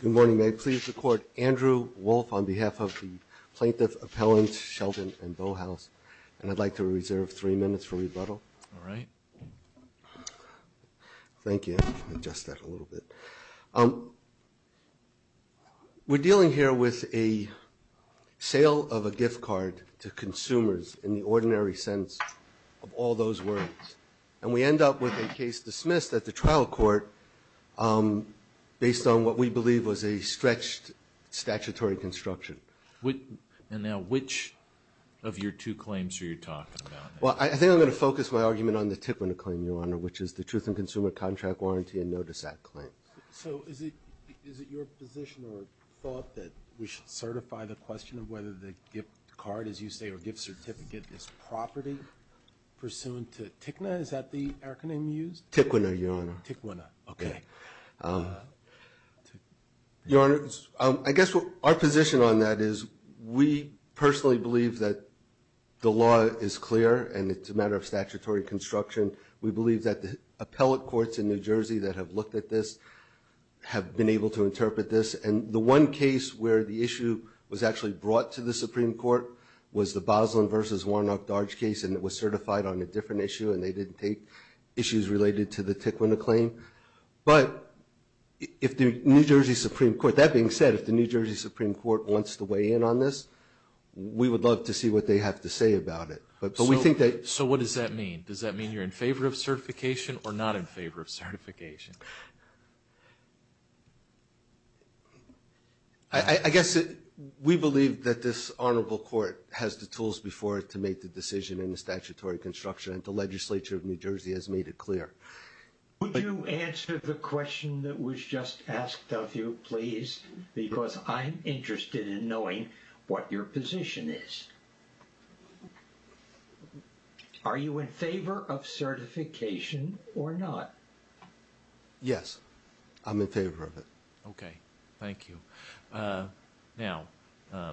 Good morning, may I please record Andrew Wolfe on behalf of the plaintiff appellants Shelton and Bauhaus and I'd like to reserve three minutes for rebuttal. Thank you. We're dealing here with a sale of a gift card to consumers in the ordinary sense of all those words and we end up with a case dismissed at the trial court based on what we believe was a stretched statutory construction. And now which of your two claims are you talking about? Well I think I'm going to focus my argument on the tip of the claim your honor which is the Truth and Consumer Contract Warranty and Notice Act claim. So is it your position or thought that we should certify the question of whether the gift card as you say or gift certificate is property pursuant to TICNA is that the acronym used? TICNA your honor. TICNA okay. Your honor I guess our position on that is we personally believe that the law is clear and it's a matter of statutory construction. We believe that the appellate courts in New Jersey that have looked at this have been able to interpret this and the one case where the issue was actually brought to the Supreme Court was the Boslin versus Warnock-Darge case and it was certified on a different issue and they didn't take issues related to the TICNA claim. But if the New Jersey Supreme Court that being said if the New Jersey Supreme Court wants to weigh in on this we would love to see what they have to say about it. But we think that. So what does that mean? Does that mean you're in favor of certification or not in favor of certification? I guess it we believe that this honorable court has the tools before it to make the decision in the statutory construction and the Legislature of New Jersey has made it clear. Would you answer the question that was just asked of you please because I'm interested in knowing what your position is. Are you in favor of certification or not? Yes. I'm in favor of it. OK. Thank you. Now I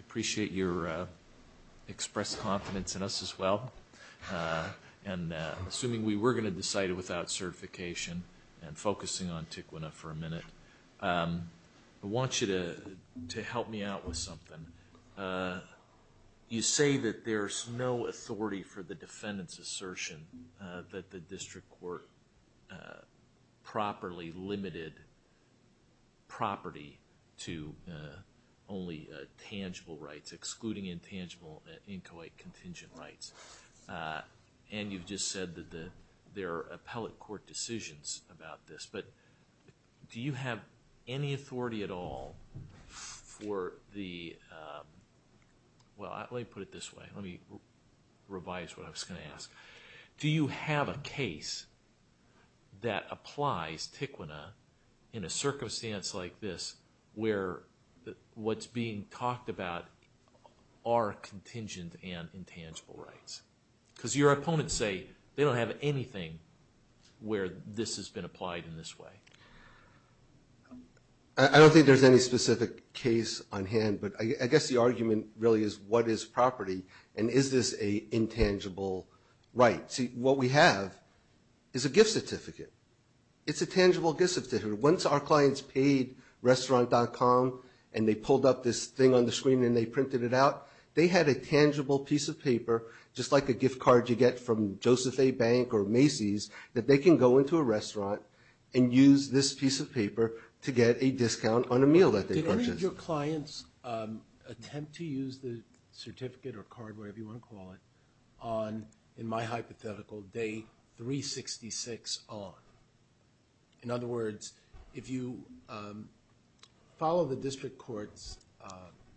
appreciate your expressed confidence in us as well. And assuming we were going to decide without certification and I want you to help me out with something. You say that there's no authority for the defendant's assertion that the district court properly limited property to only tangible rights excluding intangible inchoate contingent rights. And you've just said that there are appellate court decisions about this. But do you have any authority at all for the. Well let me put it this way. Let me revise what I was going to ask. Do you have a case that applies Tiquina in a circumstance like this where what's being talked about are contingent and intangible rights? Because your opponents say they don't have anything where this has been applied in this way. I don't think there's any specific case on hand but I guess the argument really is what is property and is this a intangible right? See what we have is a gift certificate. It's a tangible gift certificate. Once our clients paid restaurant.com and they pulled up this thing on the screen and they printed it out they had a tangible piece of paper just like a gift card you get from Joseph A. Bank or Macy's that they can go into a restaurant and use this piece of paper to get a discount on a meal that they purchased. Did any of your clients attempt to use the certificate or card whatever you want to call it on in my hypothetical day 366 on? In other words if you follow the district court's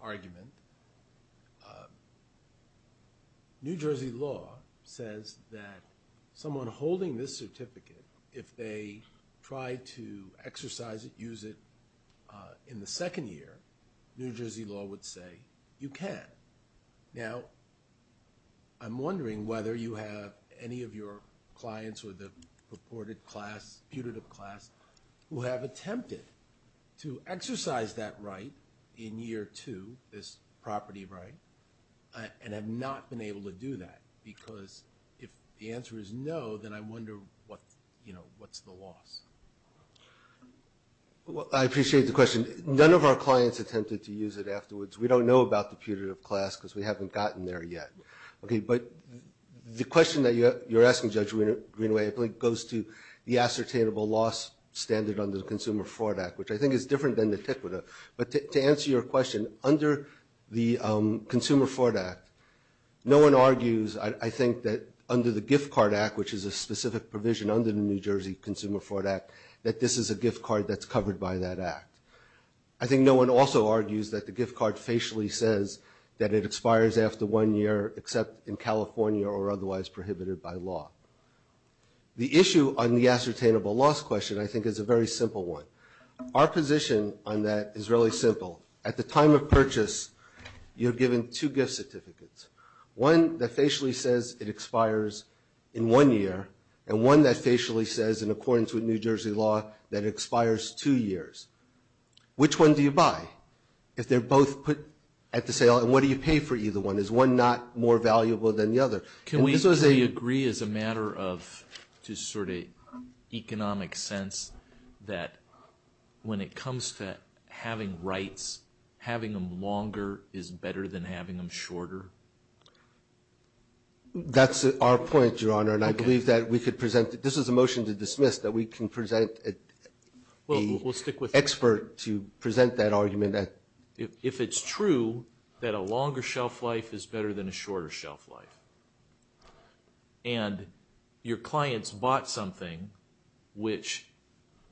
argument New Jersey law says that someone holding this certificate if they try to exercise it use it in the second year New Jersey law would say you can. Now I'm wondering whether you have any of your clients or the purported class who have attempted to exercise that right in year two this property right and have not been able to do that because if the answer is no then I wonder what you know what's the loss? Well I appreciate the question. None of our clients attempted to use it afterwards. We don't know about the putative class because we haven't gotten there yet. Okay but the question that you're asking Judge Greenaway I think goes to the ascertainable loss standard under the Consumer Fraud Act which I think is different than the TIC with it. But to answer your question under the Consumer Fraud Act no one argues I think that under the Gift Card Act which is a specific provision under the New Jersey Consumer Fraud Act that this is a gift card that's covered by that act. I think no one also argues that the gift card facially says that it expires after one year except in California or otherwise prohibited by law. The issue on the ascertainable loss question I think is a very simple one. Our position on that is really simple. At the time of purchase you're given two gift certificates. One that facially says it expires in one year and one that facially says in the sale and what do you pay for either one? Is one not more valuable than the other? Can we agree as a matter of just sort of economic sense that when it comes to having rights having them longer is better than having them shorter? That's our point Your Honor and I believe that we could present that this is a motion to dismiss that we can present an expert to present that it's true that a longer shelf life is better than a shorter shelf life. And your clients bought something which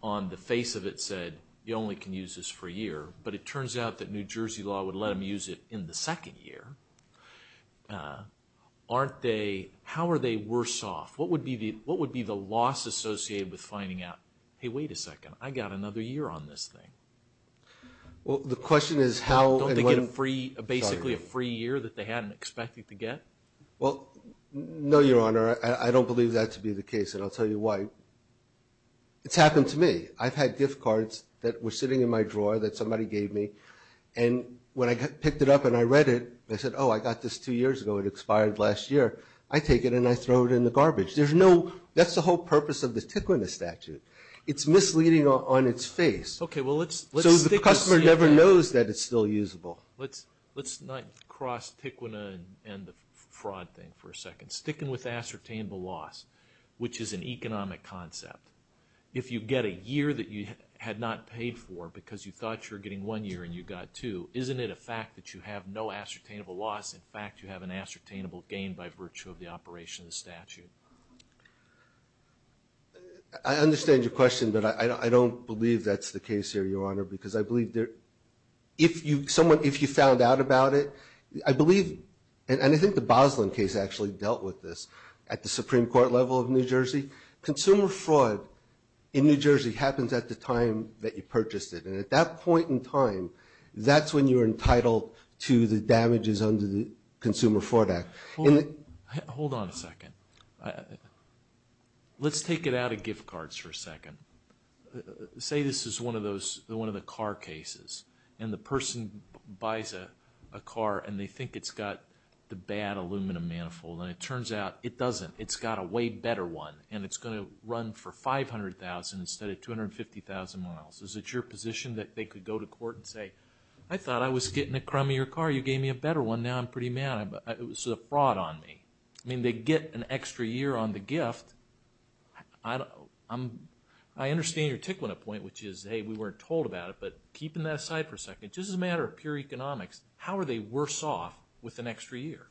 on the face of it said you only can use this for a year but it turns out that New Jersey law would let them use it in the second year. How are they worse off? What would be the loss associated with finding out hey wait a second I got another year on this thing? Well the question is how and when. Don't they get a free basically a free year that they hadn't expected to get? Well no your Honor I don't believe that to be the case and I'll tell you why. It's happened to me. I've had gift cards that were sitting in my drawer that somebody gave me and when I picked it up and I read it I said oh I got this two years ago it expired last year. I take it and I throw it in the garbage. There's no that's the whole purpose of the tickling the statute. It's misleading on its face. Okay well let's stick with that. So the customer never knows that it's still usable. Let's not cross Tiquina and the fraud thing for a second. Sticking with ascertainable loss which is an economic concept. If you get a year that you had not paid for because you thought you're getting one year and you got two isn't it a fact that you have no ascertainable loss? In fact you have an ascertainable gain by virtue of the operation of the statute. I understand your question but I don't believe that's the case here your Honor because I believe there if you someone if you found out about it I believe and I think the Boslin case actually dealt with this at the Supreme Court level of New Jersey. Consumer fraud in New Jersey happens at the time that you purchased it and at that point in time that's when you're entitled to the damages under the Consumer Fraud Act. Hold on a second. Let's take it out of gift cards for a second. Say this is one of those one of the car cases and the person buys a car and they think it's got the bad aluminum manifold and it turns out it doesn't. It's got a way better one and it's going to run for $500,000 instead of 250,000 miles. Is it your position that they could go to court and say I thought I was getting a crummier car you gave me a better one now I'm pretty mad. It was a fraud on me. I mean they get an extra year on the gift. I don't I'm I understand your tickling a point which is hey we weren't told about it but keeping that aside for a second just as a matter of pure economics how are they worse off with an extra year?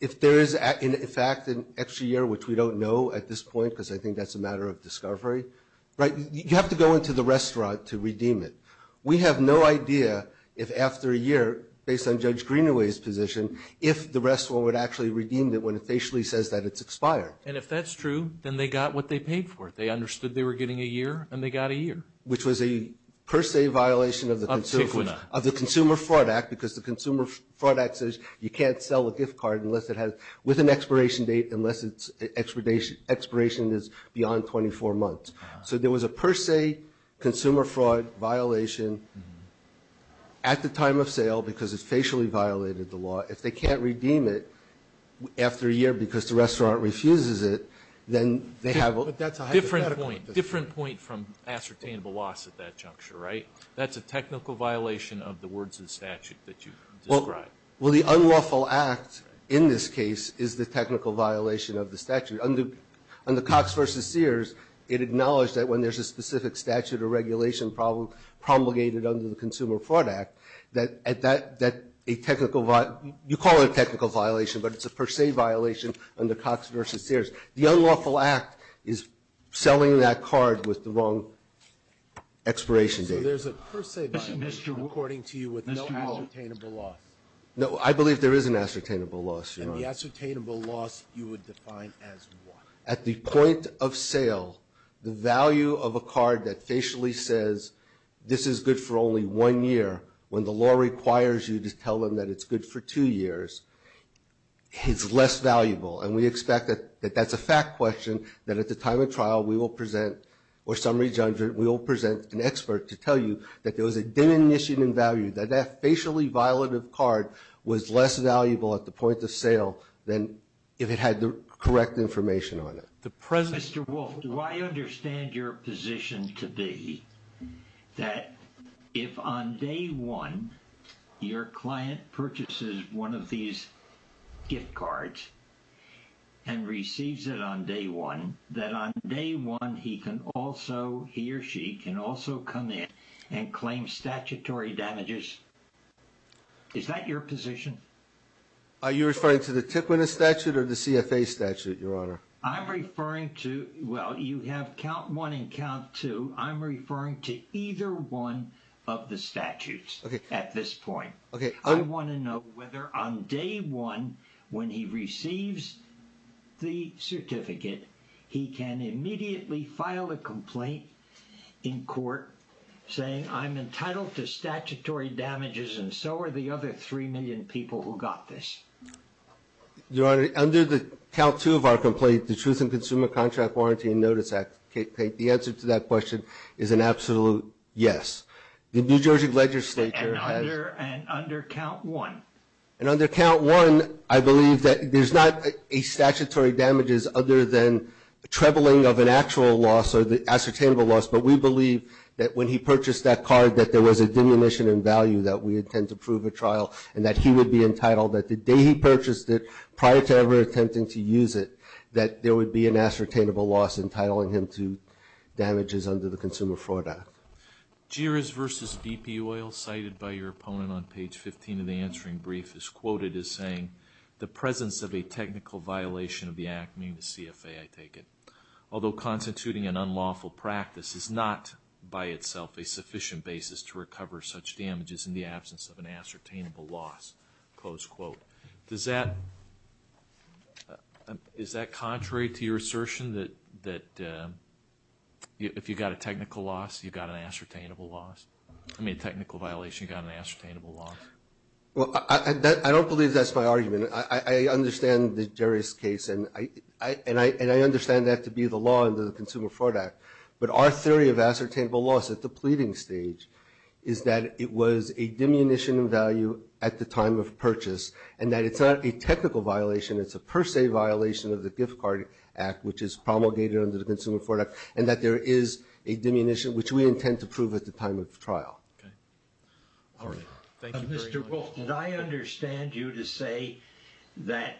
If there is in fact an extra year which we don't know at this point because I think that's a matter of discovery right you have to go into the restaurant to redeem it. We have no idea if after a year based on Judge Greenaway's position if the restaurant would actually redeem it when it facially says that it's expired. And if that's true then they got what they paid for it. They understood they were getting a year and they got a year which was a per se violation of the Consumer Fraud Act because the Consumer Fraud Act says you can't sell a gift card unless it has with an expiration date unless it's expiration is beyond 24 months. So there was a per se consumer fraud violation at the time of sale because it's facially violated the law. If they can't redeem it after a year because the restaurant refuses it then they have a different point different point from ascertainable loss at that juncture right? That's a technical violation of the words of the statute that you described. Well the unlawful act in this case is the technical violation of the statute. Under Cox v. Sears it acknowledged that when there's a specific statute or regulation problem promulgated under the Consumer Fraud Act that a technical you call it a technical violation but it's a per se violation under Cox v. Sears. The unlawful act is selling that card with the wrong expiration date. So there's a per se violation according to you with no ascertainable loss? No I believe there is an ascertainable loss. And the ascertainable loss you would define as what? At the point of sale the value of a card that facially says this is good for only one year when the law requires you to tell them that it's good for two years is less valuable. And we expect that that's a fact question that at the time of trial we will present or summary juncture we will present an expert to tell you that there was a diminishing in value that that facially violative card was less valuable at the point of sale than if it had the correct information on it. Mr. Wolf, do I understand your position to be that if on day one your client purchases one of these gift cards and receives it on day one that on day one he can also he or she can also come in and claim statutory damages? Is that your position? Are you referring to the TICWINA statute or the CFA statute your honor? I'm referring to well you have count one and count two I'm referring to either one of the statutes at this point. I want to know whether on day one when he receives the certificate he can immediately file a complaint in court saying I'm entitled to statutory damages and so are the other three million people who got this. Your honor, under the count two of our complaint the Truth in Consumer Contract Warranty and Notice Act, the answer to that question is an absolute yes. The New Jersey legislature has. And under count one? And under count one I believe that there's not a statutory damages other than the trebling of an actual loss or the ascertainable loss but we believe that when he purchased that card that there was a diminishing in value that we intend to prove at trial and that he would be entitled that the day he purchased that card he would be entitled to a statutory damages. Prior to ever attempting to use it that there would be an ascertainable loss entitling him to damages under the Consumer Fraud Act. Jerez versus BP oil cited by your opponent on page 15 of the answering brief is quoted as saying the presence of a technical violation of the act, meaning the CFA I take it, although constituting an unlawful practice is not by itself a sufficient basis to recover such damages in the absence of an ascertainable loss. Does that, is that contrary to your assertion that if you got a technical loss you got an ascertainable loss, I mean a technical violation you got an ascertainable loss? Well I don't believe that's my argument. I understand the Jerez case and I understand that to be the law under the Consumer Fraud Act but our theory of ascertainable loss at the pleading stage is that it was a diminution in value at the time of purchase and that it's not a technical violation it's a per se violation of the gift card act which is promulgated under the Consumer Fraud Act and that there is a diminution which we intend to prove at the time of trial. All right. Thank you very much. Mr. Wolf did I understand you to say that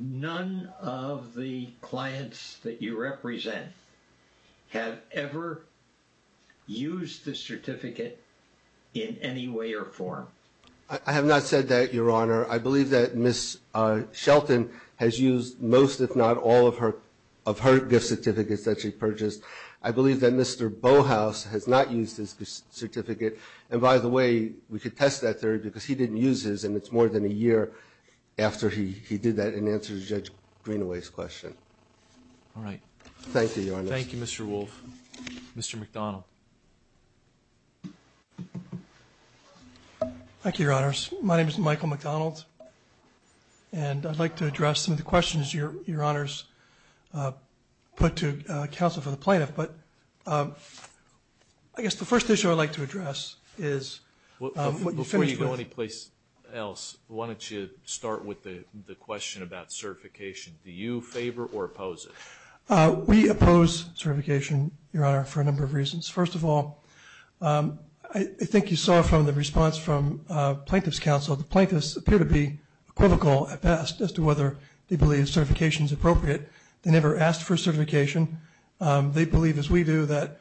none of the clients that you represent have ever used this certificate in any way or form? I have not said that, Your Honor. I believe that Ms. Shelton has used most if not all of her, of her gift certificates that she purchased. I believe that Mr. Bauhaus has not used this certificate and by the way we could test that theory because he didn't use his and it's more than a year after he did that in answer to Judge Greenaway's question. All right. Thank you, Your Honor. Thank you, Mr. Wolf. Mr. McDonald. Thank you, Your Honors. My name is Michael McDonald and I'd like to address some of the questions Your Honors put to counsel for the plaintiff but I guess the first issue I'd like to address is what you finished with. Before you go any place else why don't you start with the question about certification. Do you favor or oppose it? We oppose certification, Your Honor, for a number of reasons. First of all, I think you saw from the response from Plaintiff's Counsel the plaintiffs appear to be equivocal at best as to whether they believe certification is appropriate. They never asked for certification. They believe as we do that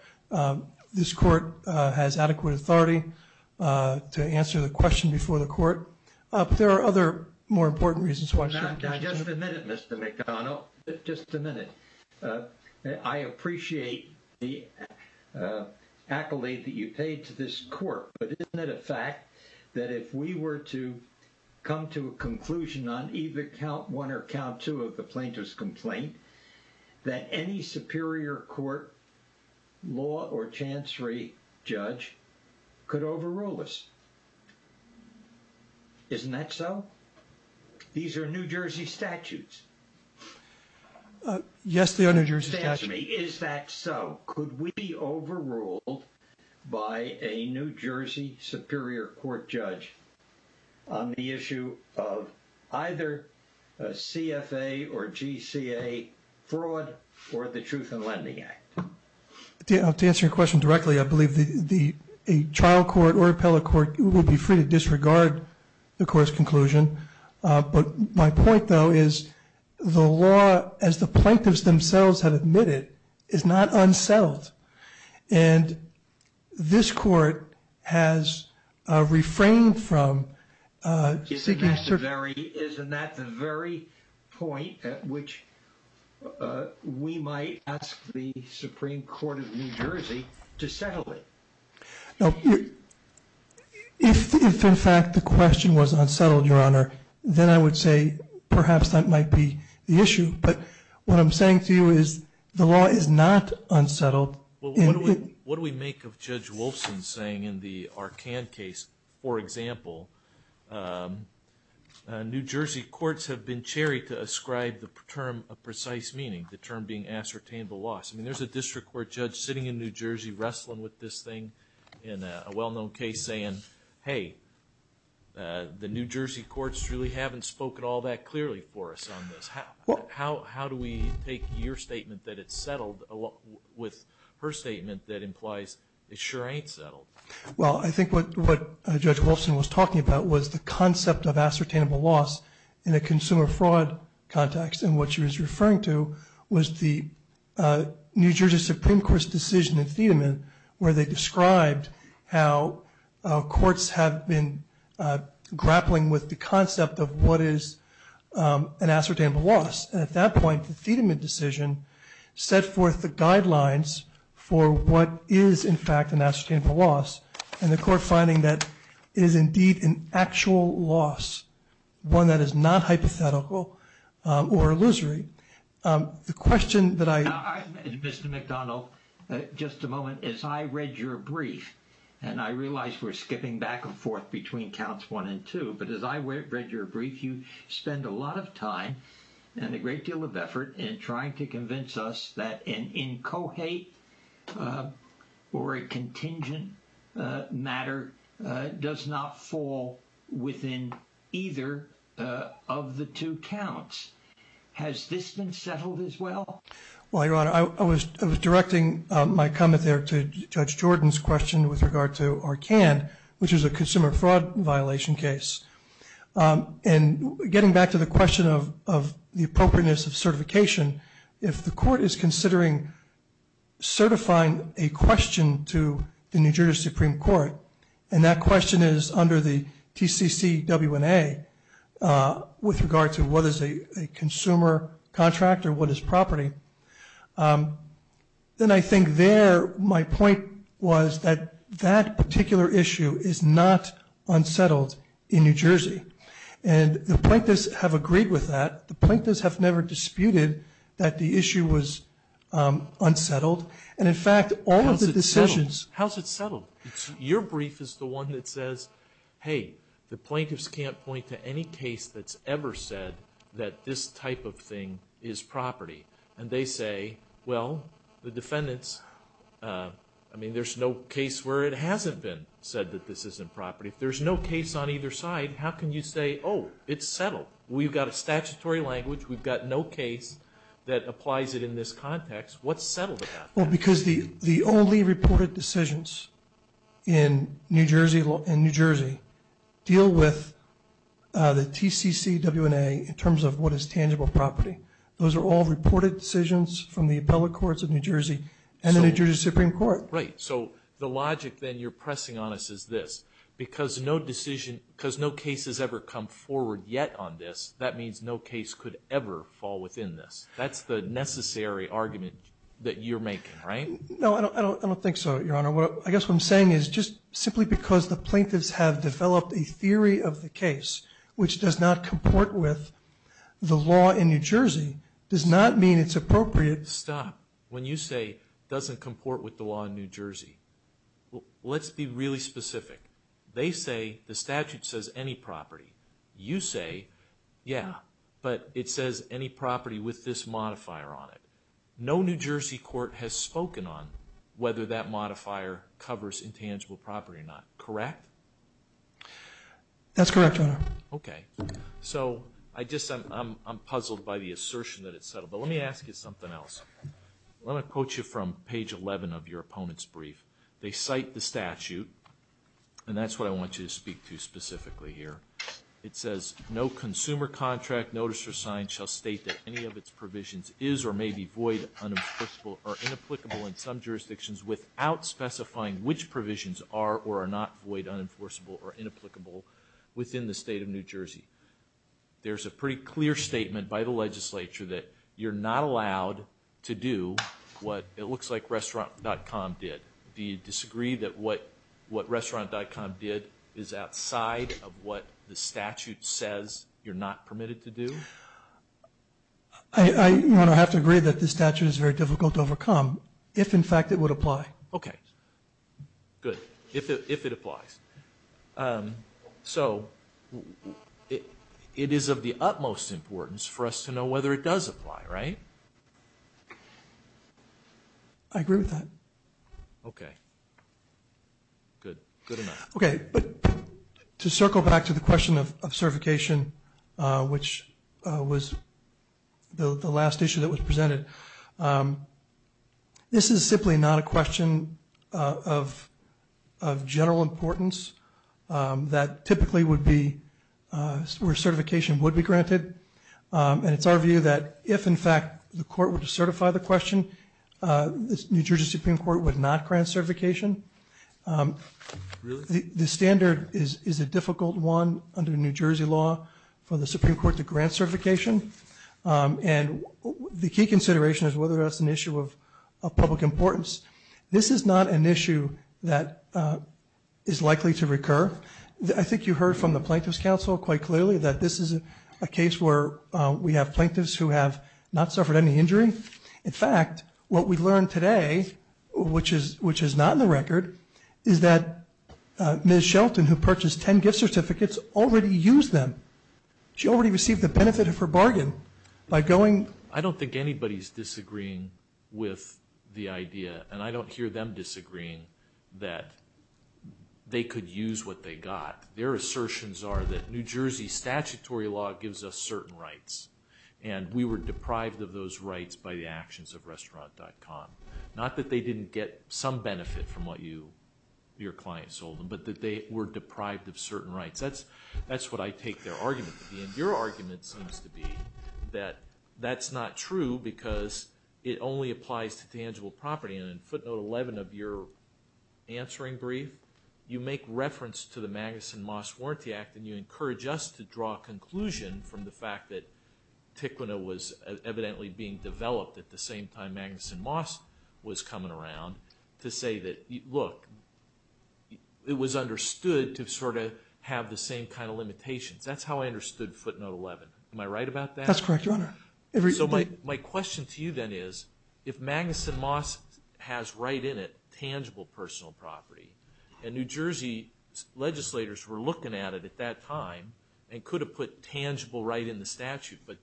this court has adequate authority to answer the question before the court. There are other more important reasons. Just a minute, Mr. McDonald. Just a minute. I appreciate the accolade that you paid to this court but isn't it a fact that if we were to come to a conclusion on either count one or count two of the plaintiff's complaint that any superior court law or chancery judge could overrule us? Isn't that so? These are New Jersey statutes. Yes, they are New Jersey statutes. Is that so? Could we be overruled by a New Jersey superior court judge on the issue of either a CFA or GCA fraud or the Truth in Lending Act? To answer your question directly, I believe a trial court or appellate court would be free to disregard the court's conclusion. But my point, though, is the law as the plaintiffs themselves have admitted is not unsettled. Isn't that the very point at which we might ask the Supreme Court of New Jersey to settle it? If, in fact, the question was unsettled, Your Honor, then I would say perhaps that might be the issue. But what I'm saying to you is the law is not unsettled. What do we make of Judge Wolfson saying in the Arcan case, for example, New Jersey courts have been cherried to ascribe the term a precise meaning, the term being ascertained the loss. I mean, there's a district court judge sitting in New Jersey wrestling with this thing in a well-known case saying, hey, the New Jersey courts really haven't spoken all that clearly for us on this. How do we take your statement that it's settled with her statement that implies it sure ain't settled? Well, I think what Judge Wolfson was talking about was the concept of ascertainable loss in a consumer fraud context. And what she was referring to was the New Jersey Supreme Court's decision in Thiedemann where they described how courts have been grappling with the concept of what is an ascertainable loss. The question that I Mr. McDonald, just a moment as I read your brief and I realized we're skipping back and forth between counts one and two. But as I read your brief, you spend a lot of time and a great deal of effort in trying to convince us that an incohate or a contingent matter does not fall within either of the two counts. Has this been settled as well? Well, Your Honor, I was directing my comment there to Judge Jordan's question with regard to Arcand, which is a consumer fraud violation case. And getting back to the question of the appropriateness of certification, if the court is considering certifying a question to the New Jersey Supreme Court, and that question is under the TCCWNA with regard to what is a consumer contract or what is property, then I think there my point was that that particular issue is not unsettled in New Jersey. And the plaintiffs have agreed with that. The plaintiffs have never disputed that the issue was unsettled. How's it settled? Your brief is the one that says, hey, the plaintiffs can't point to any case that's ever said that this type of thing is property. And they say, well, the defendants, I mean, there's no case where it hasn't been said that this isn't property. If there's no case on either side, how can you say, oh, it's settled? We've got a statutory language. We've got no case that applies it in this context. What's settled about that? Well, because the only reported decisions in New Jersey deal with the TCCWNA in terms of what is tangible property. Those are all reported decisions from the appellate courts of New Jersey and the New Jersey Supreme Court. Right. So the logic, then, you're pressing on us is this. Because no decision, because no case has ever come forward yet on this, that means no case could ever fall within this. That's the necessary argument that you're making, right? No, I don't think so, Your Honor. I guess what I'm saying is just simply because the plaintiffs have developed a theory of the case which does not comport with the law in New Jersey does not mean it's appropriate. Stop. When you say doesn't comport with the law in New Jersey, let's be really specific. They say the statute says any property. You say, yeah, but it says any property with this modifier on it. No New Jersey court has spoken on whether that modifier covers intangible property or not, correct? That's correct, Your Honor. Okay. So I'm puzzled by the assertion that it's settled. But let me ask you something else. Let me quote you from page 11 of your opponent's brief. They cite the statute, and that's what I want you to speak to specifically here. It says, no consumer contract, notice or sign shall state that any of its provisions is or may be void, unenforceable or inapplicable in some jurisdictions without specifying which provisions are or are not void, unenforceable or inapplicable within the state of New Jersey. There's a pretty clear statement by the legislature that you're not allowed to do what it looks like restaurant.com did. Do you disagree that what restaurant.com did is outside of what the statute says you're not permitted to do? Your Honor, I have to agree that the statute is very difficult to overcome if, in fact, it would apply. Okay. Good. If it applies. So it is of the utmost importance for us to know whether it does apply, right? I agree with that. Okay. Good. Okay. To circle back to the question of certification, which was the last issue that was presented, this is simply not a question of general importance that typically would be where certification would be granted. And it's our view that if, in fact, the court were to certify the question, the New Jersey Supreme Court would not grant certification. Really? The standard is a difficult one under New Jersey law for the Supreme Court to grant certification. And the key consideration is whether that's an issue of public importance. This is not an issue that is likely to recur. I think you heard from the Plaintiffs' Council quite clearly that this is a case where we have plaintiffs who have not suffered any injury. In fact, what we learned today, which is not in the record, is that Ms. Shelton, who purchased 10 gift certificates, already used them. She already received the benefit of her bargain by going. I don't think anybody is disagreeing with the idea, and I don't hear them disagreeing that they could use what they got. Their assertions are that New Jersey statutory law gives us certain rights. And we were deprived of those rights by the actions of restaurant.com. Not that they didn't get some benefit from what your client sold them, but that they were deprived of certain rights. That's what I take their argument to be. And your argument seems to be that that's not true because it only applies to tangible property. And in footnote 11 of your answering brief, you make reference to the Magnuson-Moss Warranty Act, and you encourage us to draw a conclusion from the fact that TICWNA was evidently being developed at the same time Magnuson-Moss was coming around, to say that, look, it was understood to sort of have the same kind of limitations. That's how I understood footnote 11. Am I right about that? That's correct, Your Honor. So my question to you then is, if Magnuson-Moss has right in it tangible personal property, and New Jersey legislators were looking at it at that time and could have put tangible right in the statute, but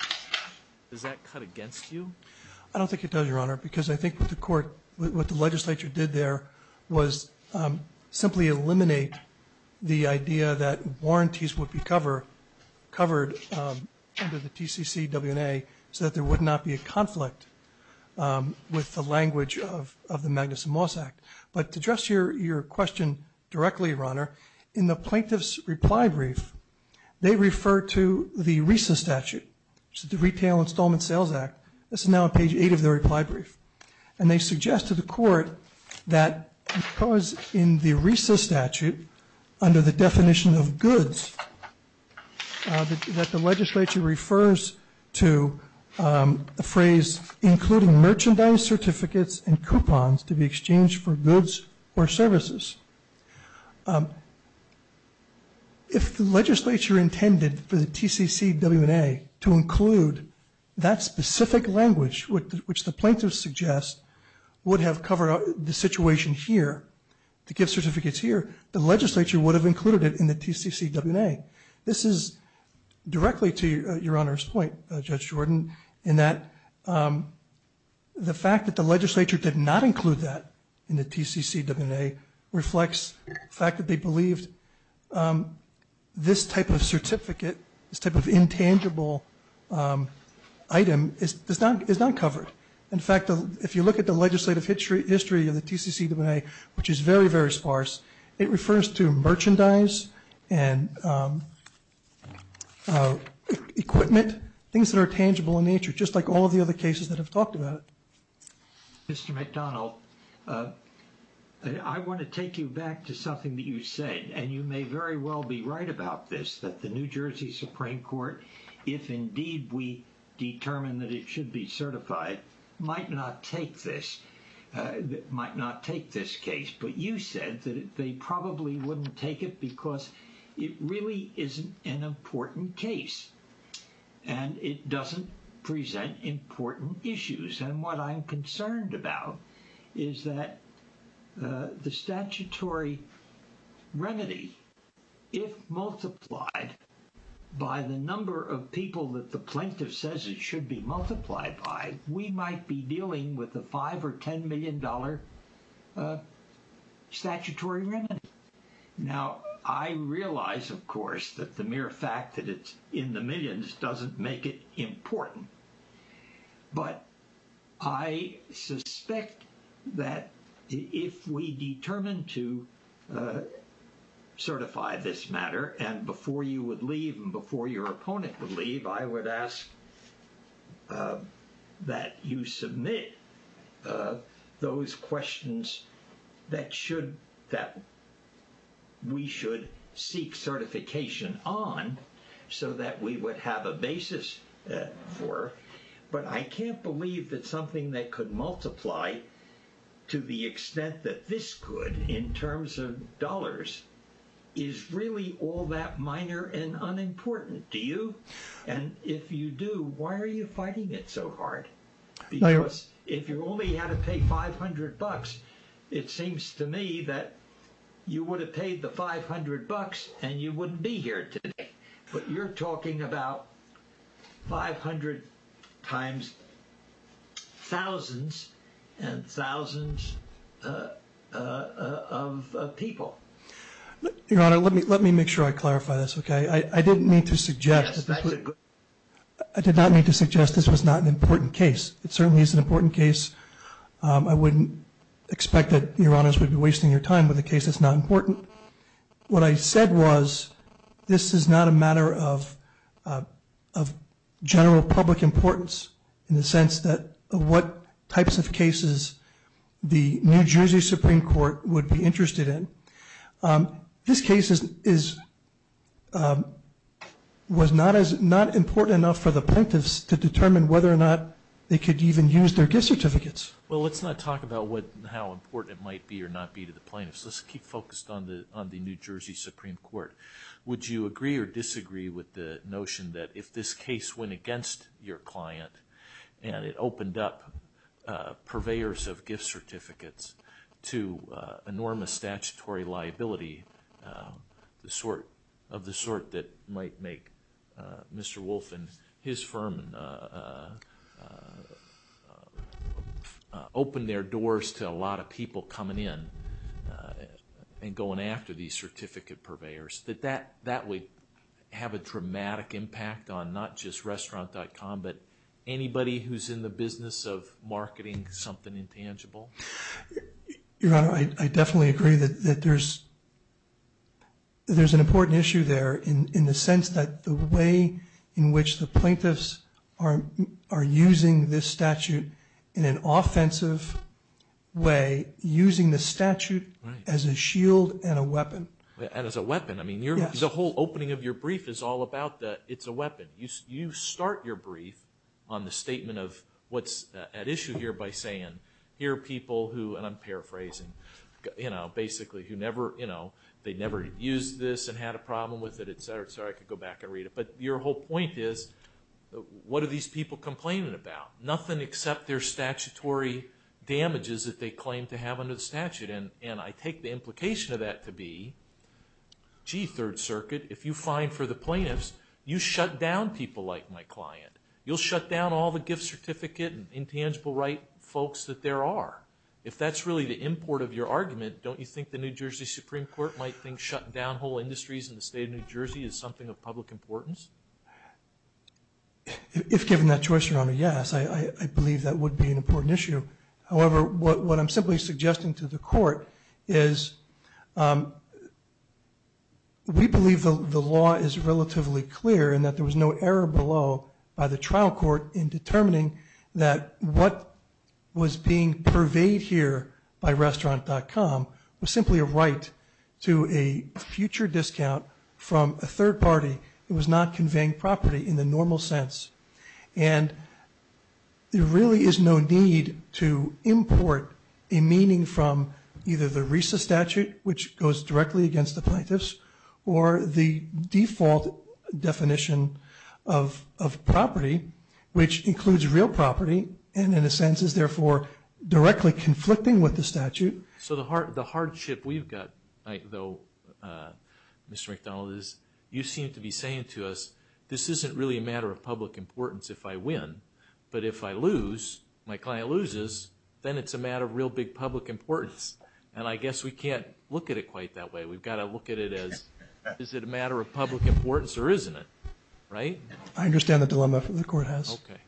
does that cut against you? I don't think it does, Your Honor, because I think what the court, what the legislature did there, was simply eliminate the idea that warranties would be covered under the TCCWNA so that there would not be a conflict with the language of the Magnuson-Moss Act. But to address your question directly, Your Honor, in the plaintiff's reply brief, they refer to the RISA statute, which is the Retail Installment Sales Act. This is now on page 8 of their reply brief. And they suggest to the court that because in the RISA statute, under the definition of goods, that the legislature refers to the phrase including merchandise certificates and coupons to be exchanged for goods or services. If the legislature intended for the TCCWNA to include that specific language, which the plaintiff suggests would have covered the situation here, the gift certificates here, the legislature would have included it in the TCCWNA. This is directly to Your Honor's point, Judge Jordan, in that the fact that the legislature did not include that in the TCCWNA reflects the fact that they believed this type of certificate, this type of intangible item, is not covered. In fact, if you look at the legislative history of the TCCWNA, which is very, very sparse, it refers to merchandise and equipment, things that are tangible in nature, just like all of the other cases that have talked about it. Mr. McDonald, I want to take you back to something that you said, and you may very well be right about this, that the New Jersey Supreme Court, if indeed we determine that it should be certified, might not take this case. But you said that they probably wouldn't take it because it really isn't an important case, and it doesn't present important issues. And what I'm concerned about is that the statutory remedy, if multiplied by the number of people that the plaintiff says it should be multiplied by, we might be dealing with a $5 million or $10 million statutory remedy. Now, I realize, of course, that the mere fact that it's in the millions doesn't make it important. But I suspect that if we determine to certify this matter, and before you would leave and before your opponent would leave, I would ask that you submit those questions that we should seek certification on, so that we would have a basis for. But I can't believe that something that could multiply to the extent that this could, in terms of dollars, is really all that minor and unimportant, do you? And if you do, why are you fighting it so hard? Because if you only had to pay $500, it seems to me that you would have paid the $500, and you wouldn't be here today. But you're talking about 500 times thousands and thousands of people. Your Honor, let me make sure I clarify this, okay? I did not mean to suggest this was not an important case. It certainly is an important case. I wouldn't expect that Your Honors would be wasting your time with a case that's not important. What I said was this is not a matter of general public importance in the sense that what types of cases the New Jersey Supreme Court would be interested in. This case was not important enough for the plaintiffs to determine whether or not they could even use their gift certificates. Well, let's not talk about how important it might be or not be to the plaintiffs. Let's keep focused on the New Jersey Supreme Court. Would you agree or disagree with the notion that if this case went against your client and it opened up purveyors of gift certificates to enormous statutory liability of the sort that might make Mr. Wolf and his firm open their doors to a lot of people coming in and going after these certificate purveyors, that that would have a dramatic impact on not just Restaurant.com but anybody who's in the business of marketing something intangible? Your Honor, I definitely agree that there's an important issue there in the sense that the way in which the plaintiffs are using this statute in an offensive way, using the statute as a shield and a weapon. And as a weapon. I mean, the whole opening of your brief is all about that it's a weapon. You start your brief on the statement of what's at issue here by saying, here are people who, and I'm paraphrasing, basically who never used this and had a problem with it, et cetera. Sorry, I could go back and read it. But your whole point is, what are these people complaining about? Nothing except their statutory damages that they claim to have under the statute. And I take the implication of that to be, gee, Third Circuit, if you fine for the plaintiffs, you shut down people like my client. You'll shut down all the gift certificate and intangible right folks that there are. If that's really the import of your argument, don't you think the New Jersey Supreme Court might think shutting down whole industries in the state of New Jersey is something of public importance? If given that choice, Your Honor, yes. I believe that would be an important issue. However, what I'm simply suggesting to the court is, we believe the law is relatively clear and that there was no error below by the trial court in determining that what was being purveyed here by restaurant.com was simply a right to a future discount from a third party that was not conveying property in the normal sense. And there really is no need to import a meaning from either the RESA statute, which goes directly against the plaintiffs, or the default definition of property, which includes real property, and in a sense is therefore directly conflicting with the statute. So the hardship we've got though, Mr. McDonald, is you seem to be saying to us, this isn't really a matter of public importance if I win, but if I lose, my client loses, then it's a matter of real big public importance. And I guess we can't look at it quite that way. We've got to look at it as, is it a matter of public importance or isn't it? Right? I understand the dilemma the court has. Okay.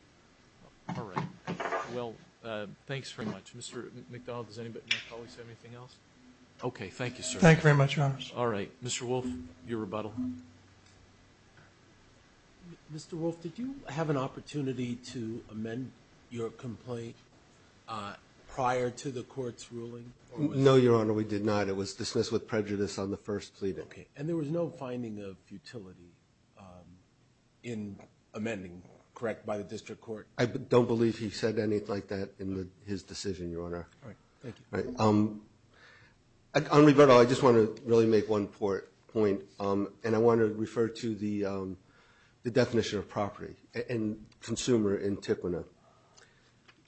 All right. Well, thanks very much. Mr. McDonald, does any of my colleagues have anything else? Okay. Thank you, sir. Thank you very much, Your Honor. All right. Mr. Wolf, your rebuttal. Mr. Wolf, did you have an opportunity to amend your complaint prior to the court's ruling? No, Your Honor, we did not. It was dismissed with prejudice on the first pleading. Okay. And there was no finding of futility in amending, correct, by the district court? I don't believe he said anything like that in his decision, Your Honor. All right. Thank you. All right. On rebuttal, I just want to really make one point, and I want to refer to the definition of property and consumer in TQNA.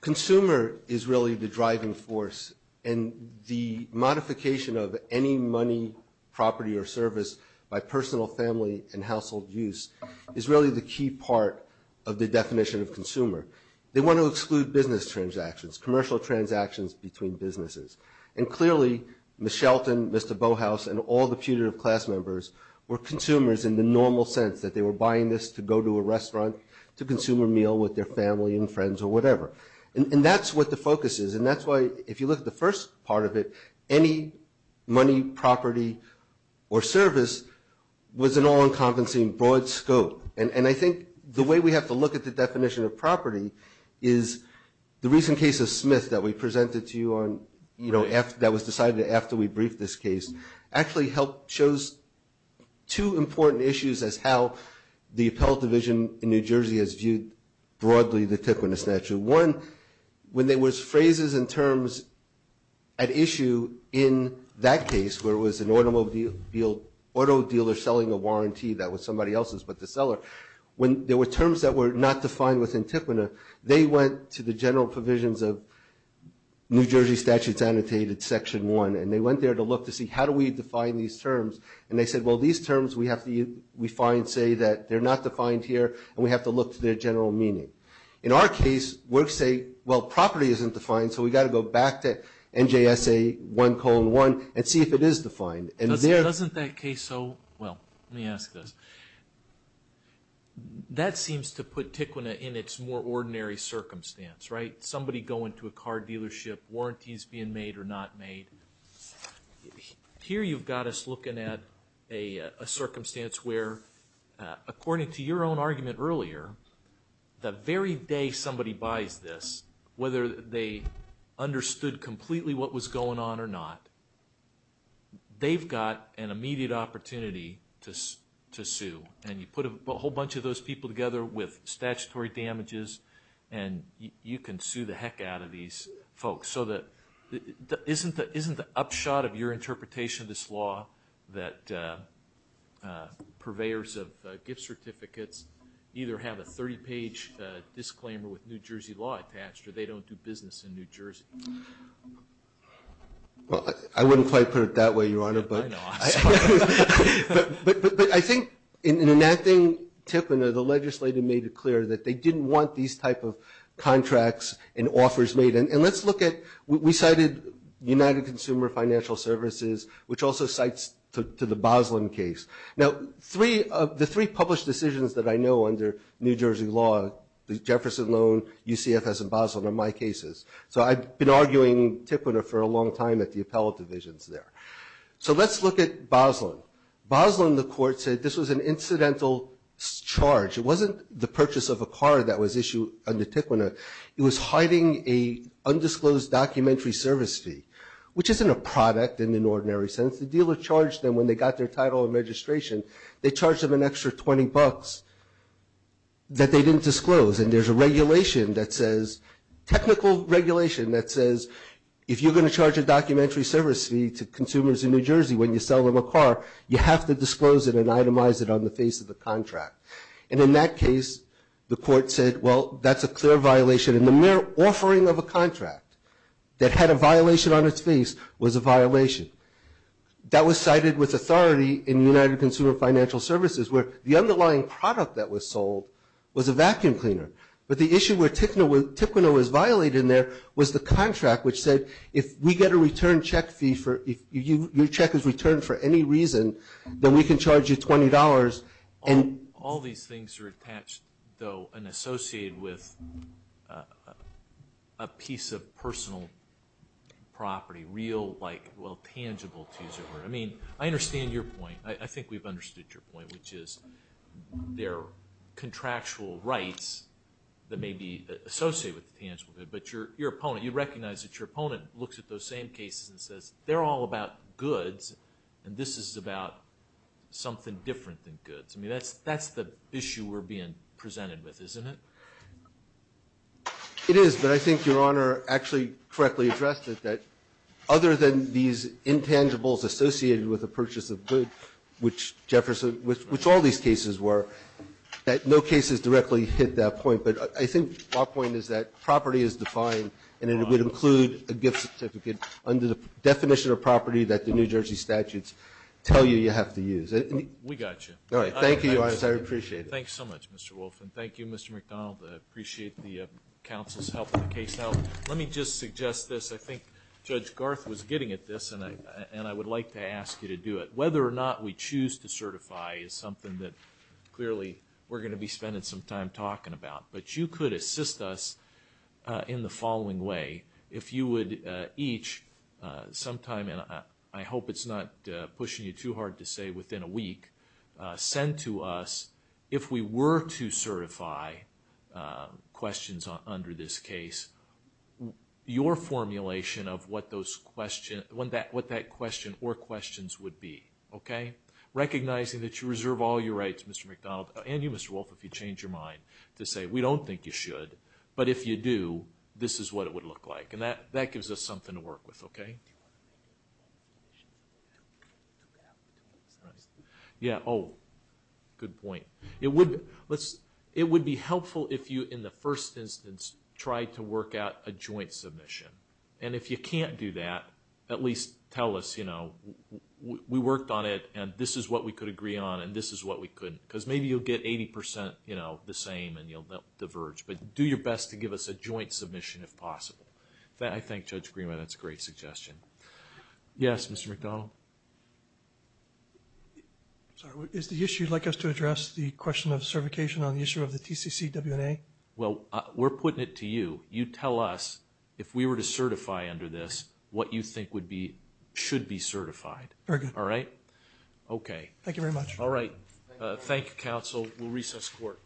Consumer is really the driving force, and the modification of any money, property, or service by personal, family, and household use is really the key part of the definition of consumer. They want to exclude business transactions, commercial transactions between businesses. And clearly, Ms. Shelton, Mr. Bohaus, and all the putative class members were consumers in the normal sense, that they were buying this to go to a restaurant to consume a meal with their family and friends or whatever. And that's what the focus is, and that's why, if you look at the first part of it, any money, property, or service was an all-encompassing, broad scope. And I think the way we have to look at the definition of property is the recent case of Smith that we presented to you on, you know, that was decided after we briefed this case, actually shows two important issues as how the appellate division in New Jersey has viewed broadly the TQNA statute. One, when there was phrases and terms at issue in that case, where it was an automobile auto dealer selling a warranty that was somebody else's, but the auto dealer. When there were terms that were not defined within TQNA, they went to the general provisions of New Jersey Statutes Annotated Section 1, and they went there to look to see how do we define these terms. And they said, well, these terms we find say that they're not defined here, and we have to look to their general meaning. In our case, we'll say, well, property isn't defined, so we've got to go back to NJSA 1 colon 1 and see if it is defined. Doesn't that case so, well, let me ask this. That seems to put TQNA in its more ordinary circumstance, right? Somebody going to a car dealership, warranties being made or not made. Here you've got us looking at a circumstance where, according to your own argument earlier, the very day somebody buys this, whether they understood completely what was going on or not, they've got an immediate opportunity to sue. And you put a whole bunch of those people together with statutory damages, and you can sue the heck out of these folks. So isn't the upshot of your interpretation of this law that purveyors of gift certificates either have a 30-page disclaimer with New Jersey law attached or they don't do business in New Jersey? Well, I wouldn't quite put it that way, Your Honor. I know, I'm sorry. But I think in enacting TQNA, the legislator made it clear that they didn't want these type of contracts and offers made. And let's look at, we cited United Consumer Financial Services, which also cites to the Boslin case. So I've been arguing TQNA for a long time at the appellate divisions there. So let's look at Boslin. Boslin, the court said, this was an incidental charge. It wasn't the purchase of a car that was issued under TQNA. It was hiding a undisclosed documentary service fee, which isn't a product in an ordinary sense. The dealer charged them when they got their title and registration, they charged them an extra $20 that they didn't disclose. And there's a regulation that says, technical regulation that says, if you're going to charge a documentary service fee to consumers in New Jersey when you sell them a car, you have to disclose it and itemize it on the face of the contract. And in that case, the court said, well, that's a clear violation. And the mere offering of a contract that had a violation on its face was a violation. That was cited with authority in United Consumer Financial Services where the issue where TQNA was violated in there was the contract, which said, if we get a return check fee, if your check is returned for any reason, then we can charge you $20. All these things are attached, though, and associated with a piece of personal property, real, like, well, tangible, to use a word. I mean, I understand your point. I think we've understood your point, which is there are contractual rights that may be associated with tangible goods. But your opponent, you recognize that your opponent looks at those same cases and says, they're all about goods, and this is about something different than goods. I mean, that's the issue we're being presented with, isn't it? It is. But I think Your Honor actually correctly addressed it, that other than these cases, which Jefferson, which all these cases were, that no cases directly hit that point. But I think my point is that property is defined, and it would include a gift certificate under the definition of property that the New Jersey statutes tell you you have to use. We got you. All right. Thank you, Your Honor. I appreciate it. Thanks so much, Mr. Wolff. And thank you, Mr. McDonald. I appreciate the counsel's help with the case. Now, let me just suggest this. I think Judge Garth was getting at this, and I would like to ask you to do it. Whether or not we choose to certify is something that clearly we're going to be spending some time talking about. But you could assist us in the following way. If you would each sometime, and I hope it's not pushing you too hard to say within a week, send to us, if we were to certify questions under this case, your formulation of what that question or questions would be. Okay? Recognizing that you reserve all your rights, Mr. McDonald, and you, Mr. Wolff, if you change your mind to say we don't think you should, but if you do, this is what it would look like. And that gives us something to work with. Okay? Yeah. Oh, good point. It would be helpful if you, in the first instance, tried to work out a joint submission. And if you can't do that, at least tell us, you know, we worked on it, and this is what we could agree on, and this is what we couldn't. Because maybe you'll get 80%, you know, the same, and you'll diverge. But do your best to give us a joint submission if possible. I thank Judge Greenway. That's a great suggestion. Yes, Mr. McDonald? Sorry. Is the issue you'd like us to address the question of certification on the issue of the TCCWNA? Well, we're putting it to you. You tell us if we were to certify under this what you think would be, should be certified. Very good. All right? Okay. Thank you very much. All right. Thank you, counsel. We'll recess court.